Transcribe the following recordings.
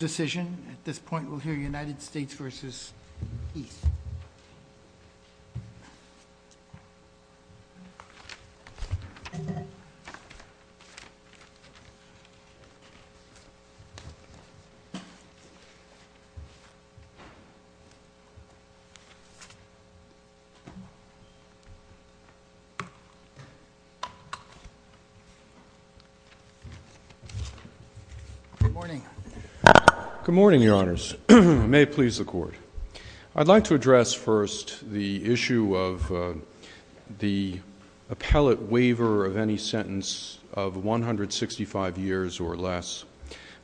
nted states versus East. Good morning. I'd like to address first the issue of the appellate waiver of any sentence of 165 years or less.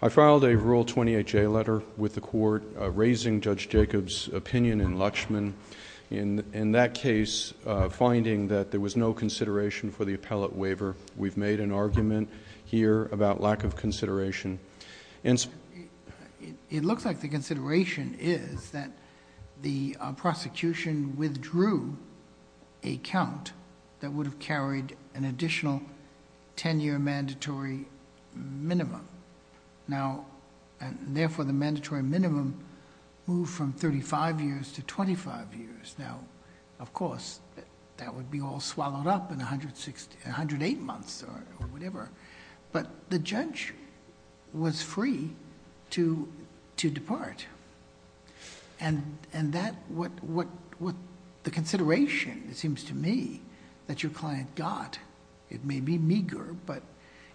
I filed a rule 28J letter with the court raising Judge Jacob's opinion in Luchman. In that case, finding that there was no consideration for the appellate waiver, we've made an argument here about lack of consideration. It looks like the consideration is that the prosecution withdrew a count that would have carried an additional ten year mandatory minimum. Now, and therefore the mandatory minimum moved from 35 years to 25 years. Of course, that would be all swallowed up in 108 months or whatever, but the judge was free to depart. The consideration, it seems to me, that your client got, it may be meager, but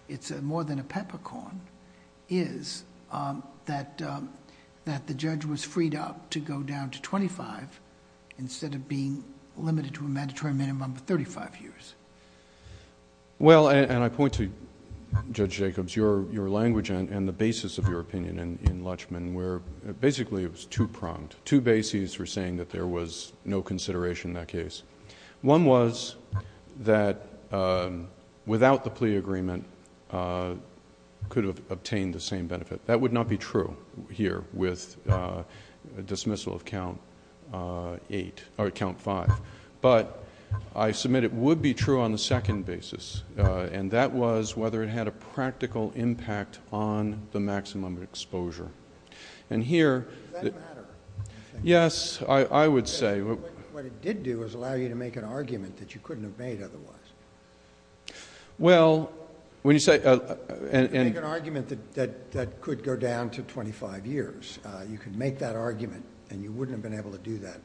it's more than a peppercorn, is that the judge was freed up to go down to 25 instead of being limited to a mandatory minimum of 35 years. Well, and I point to, Judge Jacobs, your language and the basis of your opinion in Luchman where basically it was two-pronged. Two bases for saying that there was no consideration in that case. One was that without the plea agreement could have obtained the same benefit. That would not be true here with dismissal of count eight, or count five. But I submit it would be true on the second basis, and that was whether it had a practical impact on the maximum exposure. And here... Does that matter? Yes. I would say. What it did do is allow you to make an argument that you couldn't have made otherwise. Well, when you say... You could make an argument that could go down to 25 years. You could make that argument, and you wouldn't have been able to do that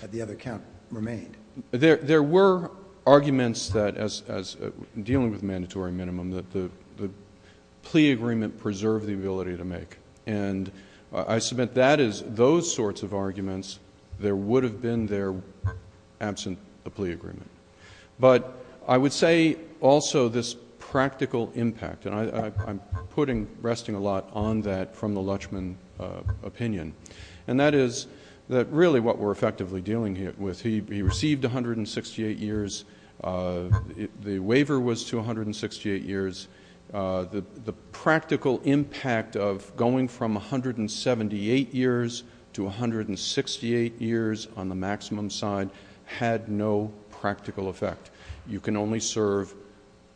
had the other count remained. There were arguments that, as dealing with mandatory minimum, that the plea agreement preserved the ability to make. And I submit that is... those sorts of arguments, there would have been there absent the plea agreement. But I would say also this practical impact, and I'm putting... resting a lot on that from the Luchman opinion. And that is that really what we're effectively dealing with, he received 168 years. The waiver was to 168 years. The practical impact of going from 178 years to 168 years on the maximum side had no practical effect. You can only serve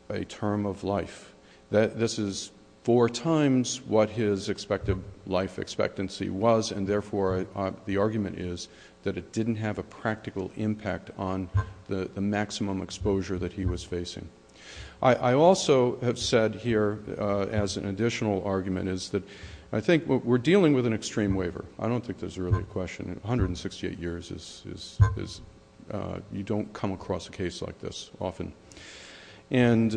a term of life. This is four times what his expected life expectancy was, and therefore the argument is that it didn't have a practical impact on the maximum exposure that he was facing. I also have said here, as an additional argument, is that I think we're dealing with an extreme waiver. I don't think there's really a question. 168 years is... you don't come across a case like this often. And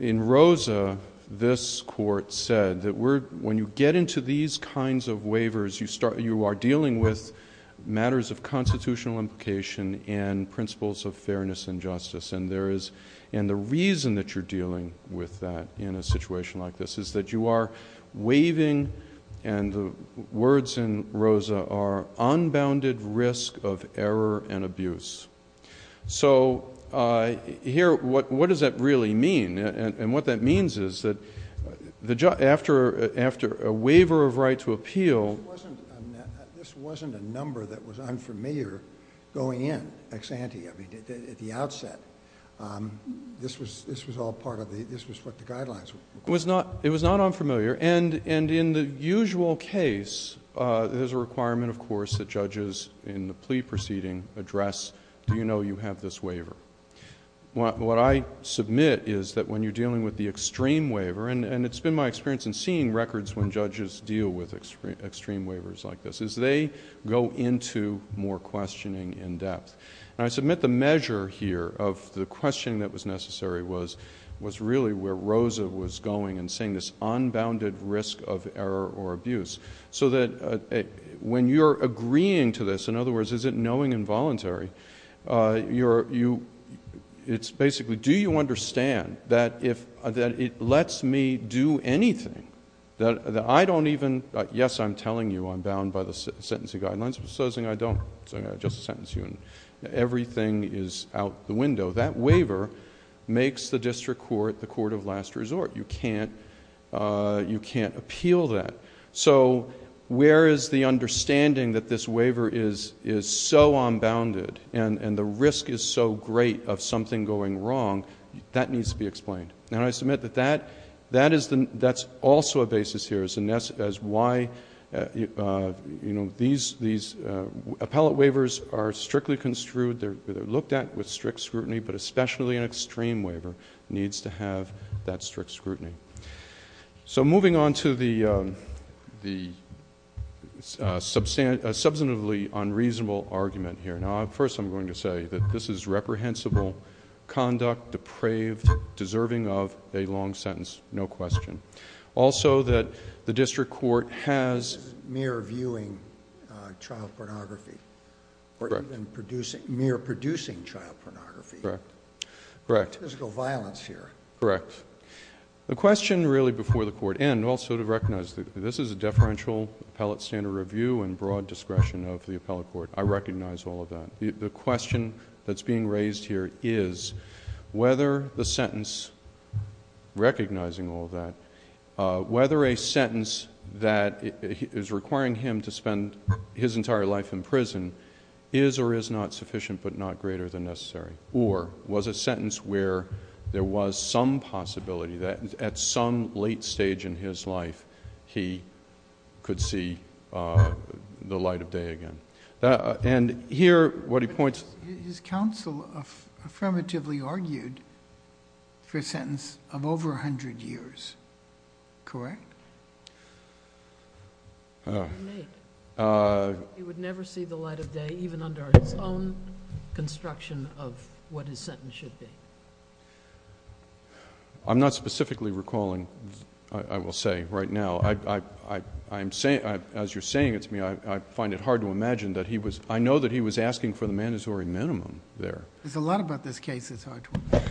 in Rosa, this court said that when you get into these kinds of waivers, you are dealing with matters of constitutional implication and principles of fairness and justice. And there is... and the reason that you're dealing with that in a situation like this is that you are waiving, and the words in Rosa are, unbounded risk of error and abuse. So here, what does that really mean? And what that means is that after a waiver of right to appeal... This was all part of the... this was what the guidelines... It was not unfamiliar, and in the usual case, there's a requirement, of course, that judges in the plea proceeding address, do you know you have this waiver? What I submit is that when you're dealing with the extreme waiver, and it's been my experience in seeing records when judges deal with extreme waivers like this, is they go into more questioning in depth. And I submit the measure here of the questioning that was necessary was really where Rosa was going and saying this unbounded risk of error or abuse. So that when you're agreeing to this, in other words, is it knowing and voluntary, it's basically, do you understand that it lets me do anything that I don't even... Yes, I'm telling you I'm bound by the sentencing guidelines, but supposing I don't, so I'm everything is out the window. That waiver makes the district court the court of last resort. You can't appeal that. So where is the understanding that this waiver is so unbounded and the risk is so great of it? And I submit that that's also a basis here as to why these appellate waivers are strictly construed, they're looked at with strict scrutiny, but especially an extreme waiver needs to have that strict scrutiny. So moving on to the substantively unreasonable argument here, now first I'm going to say that this is reprehensible conduct, depraved, deserving of a long sentence, no question. Also that the district court has... This is mere viewing child pornography or even mere producing child pornography. Correct. There's no violence here. Correct. The question really before the court, and also to recognize that this is a deferential appellate standard review and broad discretion of the appellate court, I recognize all of that. The question that's being raised here is whether the sentence, recognizing all of that, whether a sentence that is requiring him to spend his entire life in prison is or is not sufficient but not greater than necessary, or was a sentence where there was some possibility that at some late stage in his life he could see the light of day again. And here, what he points... But his counsel affirmatively argued for a sentence of over 100 years, correct? He would never see the light of day, even under his own construction of what his sentence should be. I'm not specifically recalling, I will say right now, as you're saying it to me, I find it hard to imagine that he was... I know that he was asking for the mandatory minimum there. There's a lot about this case that's hard to...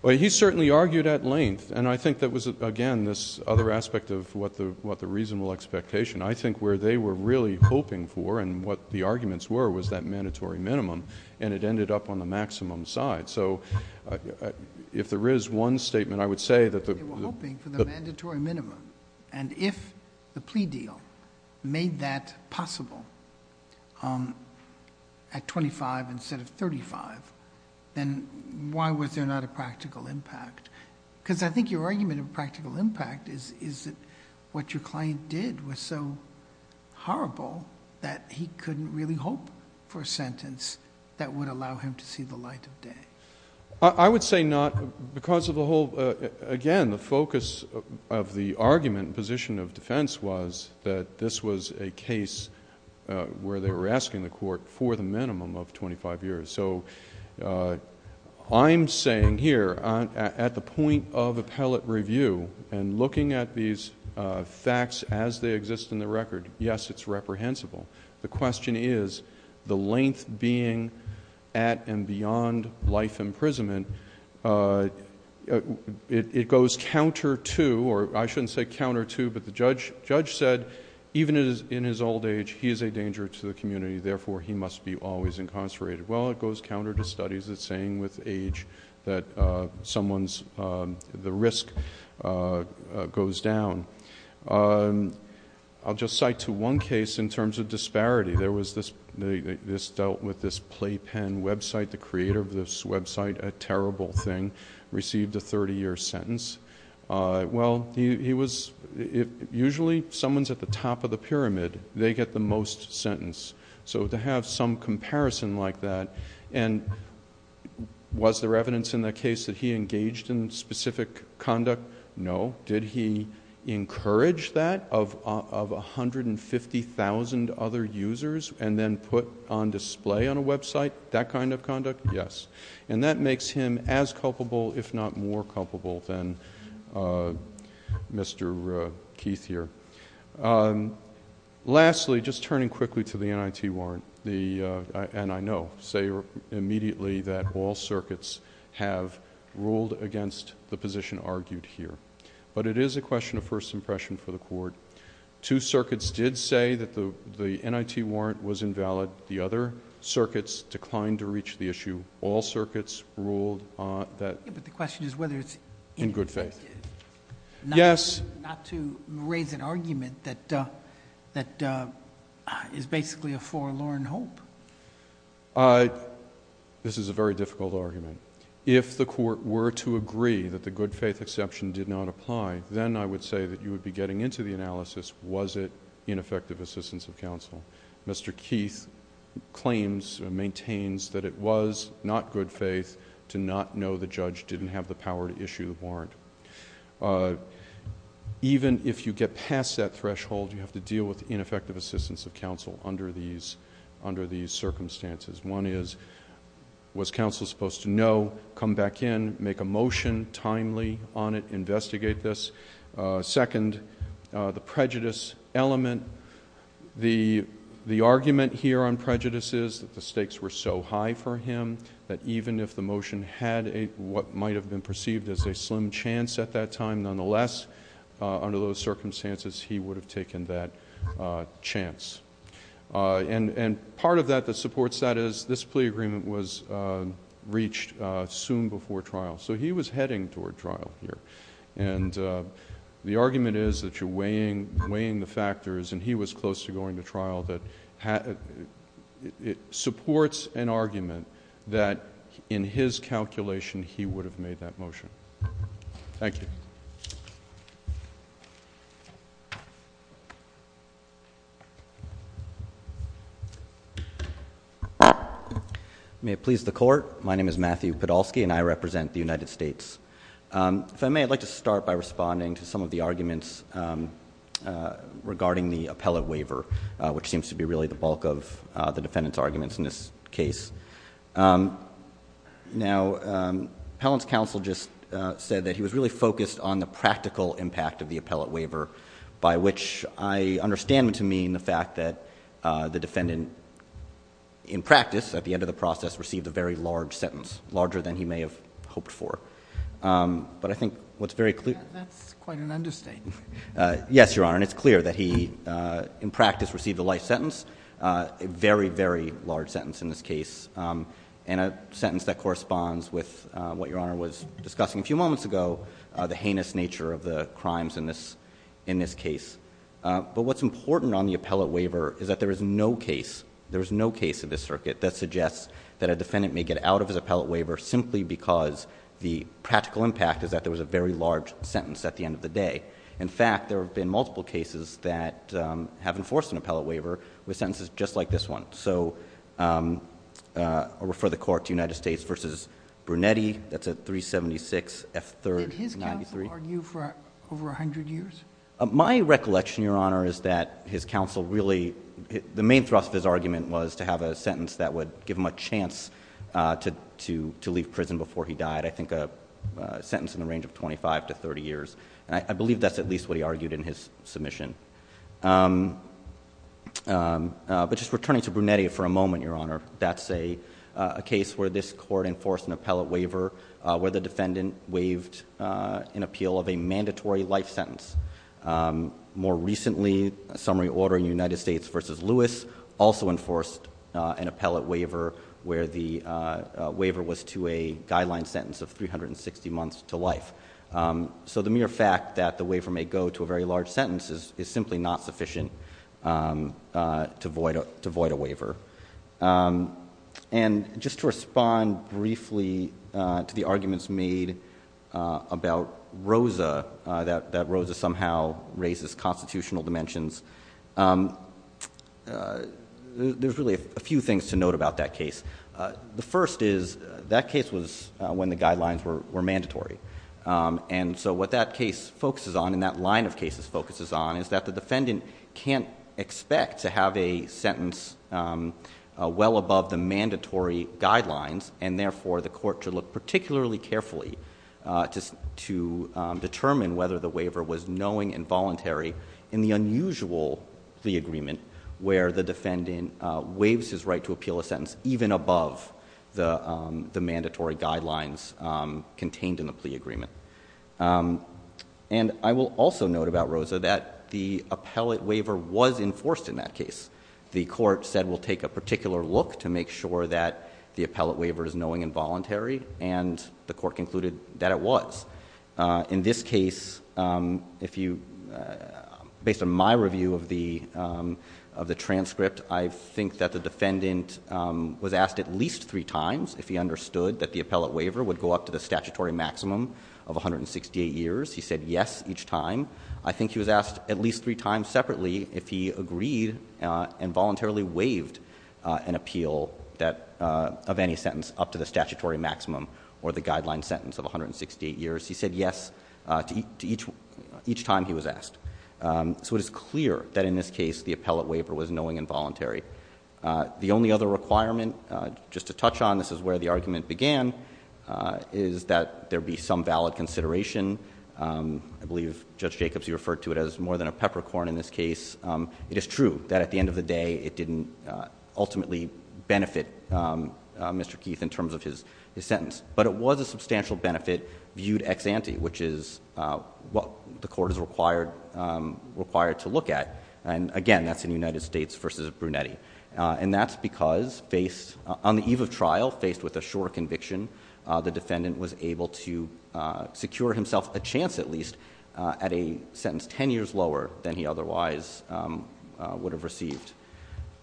Well, he certainly argued at length, and I think that was, again, this other aspect of what the reasonable expectation. I think where they were really hoping for and what the arguments were was that mandatory minimum, and it ended up on the maximum side. So if there is one statement, I would say that the...... at 25 instead of 35, then why was there not a practical impact? Because I think your argument of practical impact is that what your client did was so horrible that he couldn't really hope for a sentence that would allow him to see the light of day. I would say not, because of the whole... Again, the focus of the argument and position of the case where they were asking the court for the minimum of twenty-five years. So I'm saying here, at the point of appellate review and looking at these facts as they exist in the record, yes, it's reprehensible. The question is, the length being at and beyond life imprisonment, it goes counter to... or I shouldn't say counter to, but the judge said, even in his old age, he is a danger to the community. Therefore, he must be always incarcerated. Well, it goes counter to studies that are saying with age that someone's... the risk goes down. I'll just cite to one case in terms of disparity. There was this... this dealt with this Playpen website. The creator of this website, a terrible thing, received a thirty-year sentence. Well, he was... usually, if someone's at the top of the pyramid, they get the most sentence. So to have some comparison like that, and was there evidence in the case that he engaged in specific conduct? No. Did he encourage that of a hundred and fifty thousand other users and then put on display on a website that kind of conduct? Yes. Yes. And that makes him as culpable, if not more culpable, than Mr. Keith here. Lastly, just turning quickly to the NIT warrant, the... and I know, say immediately that all circuits have ruled against the position argued here, but it is a question of first impression for the court. Two circuits did say that the NIT warrant was invalid. The other circuits declined to reach the issue. All circuits ruled that... But the question is whether it's... In good faith. Yes. Not to raise an argument that is basically a forlorn hope. This is a very difficult argument. If the court were to agree that the good faith exception did not apply, then I would say that you would be getting into the analysis, was it ineffective assistance of counsel? Mr. Keith claims or maintains that it was not good faith to not know the judge didn't have the power to issue the warrant. Even if you get past that threshold, you have to deal with ineffective assistance of counsel under these circumstances. One is, was counsel supposed to know, come back in, make a motion timely on it, investigate this? Second, the prejudice element. The argument here on prejudice is that the stakes were so high for him that even if the motion had what might have been perceived as a slim chance at that time, nonetheless, under those circumstances, he would have taken that chance. Part of that that supports that is this plea agreement was reached soon before trial. He was heading toward trial here. The argument is that you're weighing the factors and he was close to going to trial. It supports an argument that in his calculation, he would have made that motion. Thank you. May it please the court. My name is Matthew Podolsky and I represent the United States. If I may, I'd like to start by responding to some of the arguments regarding the appellate waiver, which seems to be really the bulk of the defendant's arguments in this case. Now, Appellant's counsel just said that he was really focused on the practical impact of the appellate waiver, by which I understand to mean the fact that the defendant in practice, at the end of the process, received a very large sentence, larger than he may have hoped for. But I think what's very clear... That's quite an understatement. Yes, Your Honor. And it's clear that he, in practice, received a life sentence, a very, very large sentence in this case, and a sentence that corresponds with what Your Honor was discussing a few moments ago, the heinous nature of the crimes in this case. But what's important on the appellate waiver is that there is no case, there is no case in this circuit that suggests that a defendant may get out of his appellate waiver simply because the practical impact is that there was a very large sentence at the end of the day. In fact, there have been multiple cases that have enforced an appellate waiver with sentences just like this one. So I'll refer the Court to United States v. Brunetti. That's at 376 F. 3rd, 93. Did his counsel argue for over 100 years? My recollection, Your Honor, is that his counsel really... the main thrust of his argument was to have a sentence that would give him a chance to leave prison before he died. I think a sentence in the range of 25 to 30 years. I believe that's at least what he argued in his submission. But just returning to Brunetti for a moment, Your Honor, that's a case where this Court enforced an appellate waiver where the defendant waived an appeal of a mandatory life sentence. More recently, a summary order in United States v. Lewis also enforced an appellate waiver where the waiver was to a guideline sentence of 360 months to life. So the mere fact that the waiver may go to a very large sentence is simply not sufficient to void a waiver. And just to respond briefly to the arguments made about Rosa, that Rosa somehow raises constitutional dimensions, there's really a few things to note about that case. The first is, that case was when the guidelines were mandatory. And so what that case focuses on, and that line of cases focuses on, is that the defendant can't expect to have a sentence well above the mandatory guidelines, and therefore the court should look particularly carefully to determine whether the waiver was knowing and voluntary in the unusual plea agreement where the defendant waives his right to appeal a sentence well above the mandatory guidelines contained in the plea agreement. And I will also note about Rosa that the appellate waiver was enforced in that case. The court said we'll take a particular look to make sure that the appellate waiver is knowing and voluntary, and the court concluded that it was. In this case, if you, based on my review of the transcript, I think that the defendant was asked at least three times if he understood that the appellate waiver would go up to the statutory maximum of 168 years. He said yes each time. I think he was asked at least three times separately if he agreed and voluntarily waived an appeal of any sentence up to the statutory maximum or the guideline sentence of 168 years. He said yes to each time he was asked. So it is clear that in this case the appellate waiver was knowing and voluntary. The only other requirement, just to touch on, this is where the argument began, is that there be some valid consideration. I believe Judge Jacobs, you referred to it as more than a peppercorn in this case. It is true that at the end of the day, it didn't ultimately benefit Mr. Keith in terms of his sentence. But it was a substantial benefit viewed ex ante, which is what the court is required to look at. And again, that's in United States versus Brunetti. And that's because on the eve of trial, faced with a short conviction, the defendant was able to secure himself a chance at least at a sentence ten years lower than he otherwise would have received.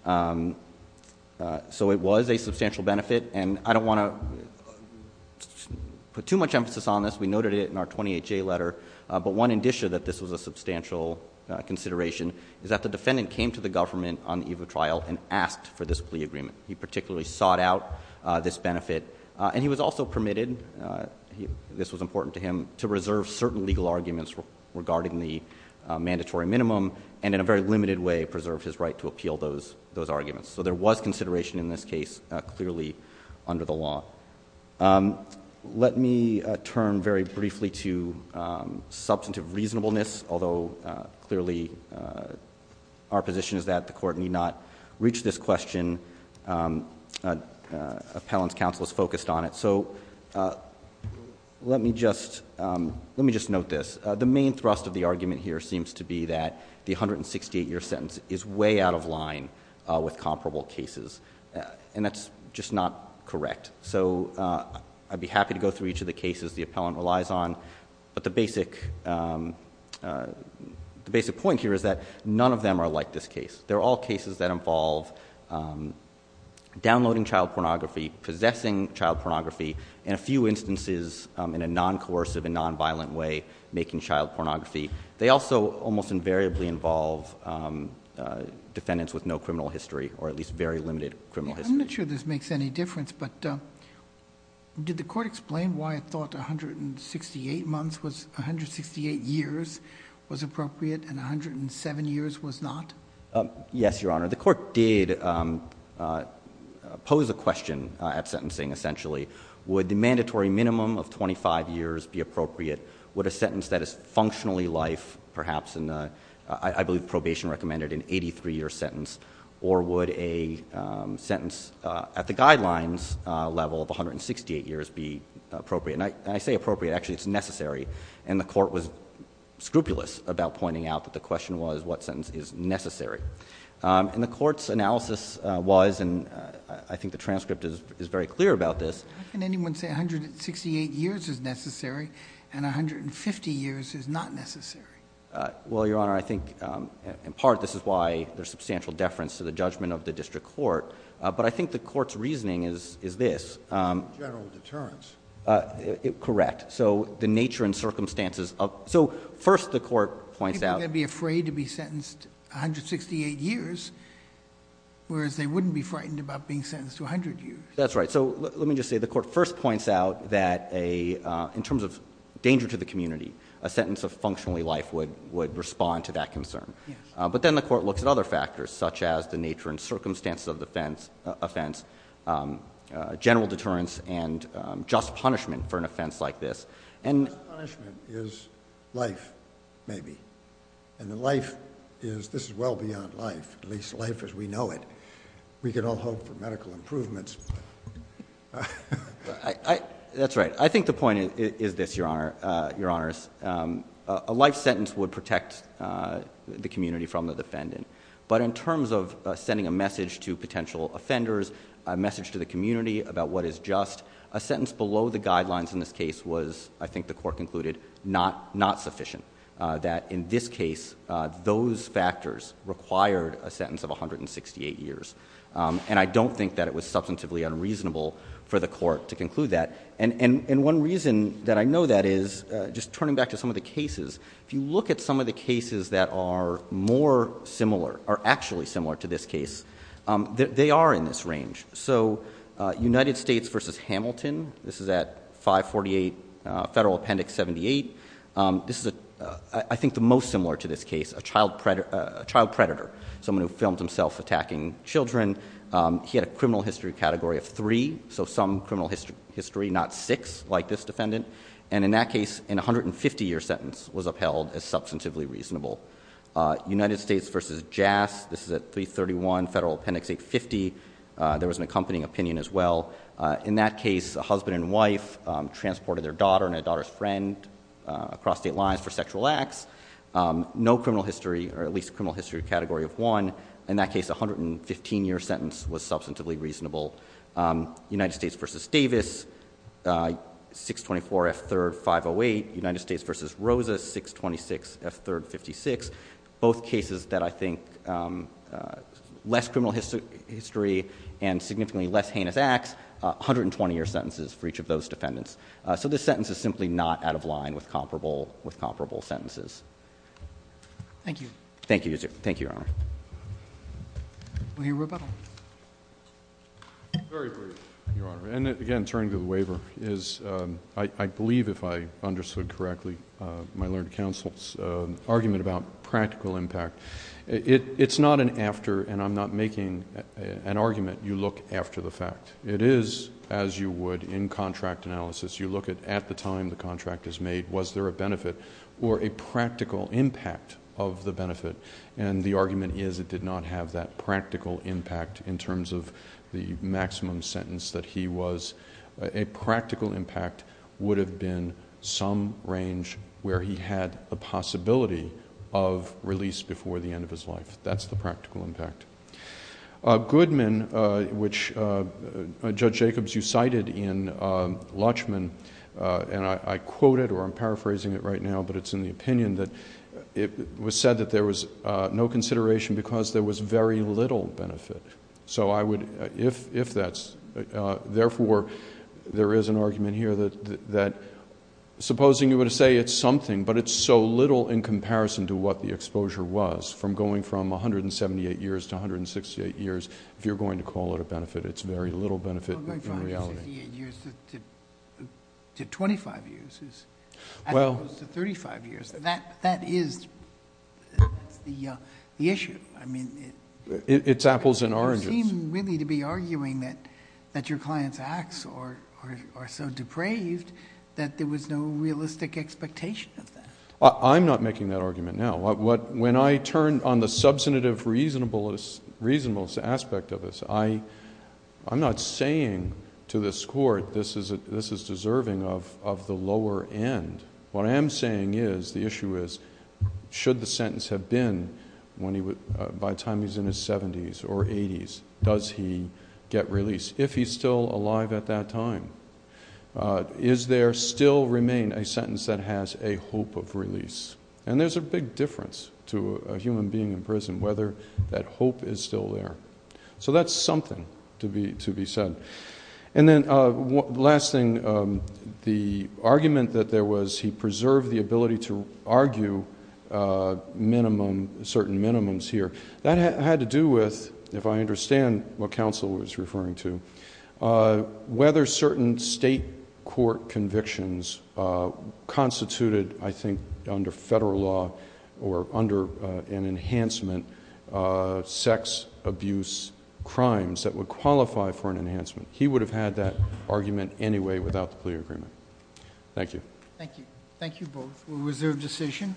So it was a substantial benefit, and I don't want to put too much emphasis on this. We noted it in our 28-J letter, but one indicia that this was a substantial consideration is that the defendant came to the government on the eve of trial and asked for this plea agreement. He particularly sought out this benefit. And he was also permitted, this was important to him, to reserve certain legal arguments regarding the mandatory minimum. And in a very limited way, preserved his right to appeal those arguments. So there was consideration in this case clearly under the law. Let me turn very briefly to substantive reasonableness. Although clearly our position is that the court need not reach this question. Appellant's counsel is focused on it. So let me just note this. The main thrust of the argument here seems to be that the 168 year sentence is way out of line with comparable cases. And that's just not correct. So I'd be happy to go through each of the cases the appellant relies on. But the basic point here is that none of them are like this case. They're all cases that involve downloading child pornography, possessing child pornography, and a few instances in a non-coercive and non-violent way making child pornography. They also almost invariably involve defendants with no criminal history, or at least very limited criminal history. I'm not sure this makes any difference, but did the court explain why it thought 168 years was appropriate and 107 years was not? Yes, your honor. The court did pose a question at sentencing, essentially. Would the mandatory minimum of 25 years be appropriate? Would a sentence that is functionally life, perhaps, and I believe probation recommended an 83 year sentence. Or would a sentence at the guidelines level of 168 years be appropriate? And I say appropriate, actually it's necessary. And the court was scrupulous about pointing out that the question was, what sentence is necessary? And the court's analysis was, and I think the transcript is very clear about this. How can anyone say 168 years is necessary and 150 years is not necessary? Well, your honor, I think in part this is why there's substantial deference to the judgment of the district court. But I think the court's reasoning is this. General deterrence. Correct. So the nature and circumstances of, so first the court points out. People are going to be afraid to be sentenced 168 years, whereas they wouldn't be frightened about being sentenced to 100 years. That's right. So let me just say the court first points out that in terms of danger to the community, a sentence of functionally life would respond to that concern. But then the court looks at other factors, such as the nature and circumstances of the offense, general deterrence, and just punishment for an offense like this. And- Just punishment is life, maybe. And the life is, this is well beyond life, at least life as we know it. We can all hope for medical improvements. That's right. I think the point is this, your honors. A life sentence would protect the community from the defendant. But in terms of sending a message to potential offenders, a message to the community about what is just, a sentence below the guidelines in this case was, I think the court concluded, not sufficient. That in this case, those factors required a sentence of 168 years. And I don't think that it was substantively unreasonable for the court to conclude that. And one reason that I know that is, just turning back to some of the cases. If you look at some of the cases that are more similar, or actually similar to this case, they are in this range. So United States versus Hamilton, this is at 548 Federal Appendix 78. This is, I think, the most similar to this case, a child predator, someone who filmed himself attacking children. He had a criminal history category of three, so some criminal history, not six, like this defendant. And in that case, an 150 year sentence was upheld as substantively reasonable. United States versus JAS, this is at 331 Federal Appendix 850, there was an accompanying opinion as well. In that case, a husband and wife transported their daughter and a daughter's friend across state lines for sexual acts. No criminal history, or at least criminal history category of one. In that case, a 115 year sentence was substantively reasonable. United States versus Davis, 624 F3rd 508, United States versus Rosa, 626 F3rd 56. Both cases that I think, less criminal history and significantly less heinous acts, 120 year sentences for each of those defendants. So this sentence is simply not out of line with comparable sentences. Thank you. Thank you, Your Honor. We'll hear rebuttal. Very brief, Your Honor, and again, turning to the waiver, is I believe, if I understood correctly, my learned counsel's argument about practical impact. It's not an after, and I'm not making an argument, you look after the fact. It is, as you would in contract analysis, you look at the time the contract is made. Was there a benefit or a practical impact of the benefit? And the argument is it did not have that practical impact in terms of the maximum sentence that he was. A practical impact would have been some range where he had a possibility of release before the end of his life. That's the practical impact. Goodman, which Judge Jacobs, you cited in Lutchman, and I quote it, or I'm paraphrasing it right now, but it's in the opinion that it was said that there was no consideration because there was very little benefit. So I would, if that's, therefore, there is an argument here that supposing you were to say it's something, but it's so little in comparison to what the exposure was, from going from 178 years to 168 years, if you're going to call it a benefit, it's very little benefit in reality. 168 years to 25 years, as opposed to 35 years. That is the issue. I mean- It's apples and oranges. You seem really to be arguing that your client's acts are so depraved that there was no realistic expectation of that. I'm not making that argument now. When I turn on the substantive reasonableness aspect of this, I'm not saying to this court this is deserving of the lower end. What I am saying is, the issue is, should the sentence have been, by the time he's in his 70s or 80s, does he get released? If he's still alive at that time, is there still remain a sentence that has a hope of release? And there's a big difference to a human being in prison, whether that hope is still there. So that's something to be said. And then, last thing, the argument that there was, he preserved the ability to argue minimum, certain minimums here. That had to do with, if I understand what counsel was referring to, whether certain state court convictions constituted, I think, under federal law or under an enhancement, sex abuse crimes that would qualify for an enhancement. He would have had that argument anyway without the plea agreement. Thank you. Thank you. Thank you both. We'll reserve decision.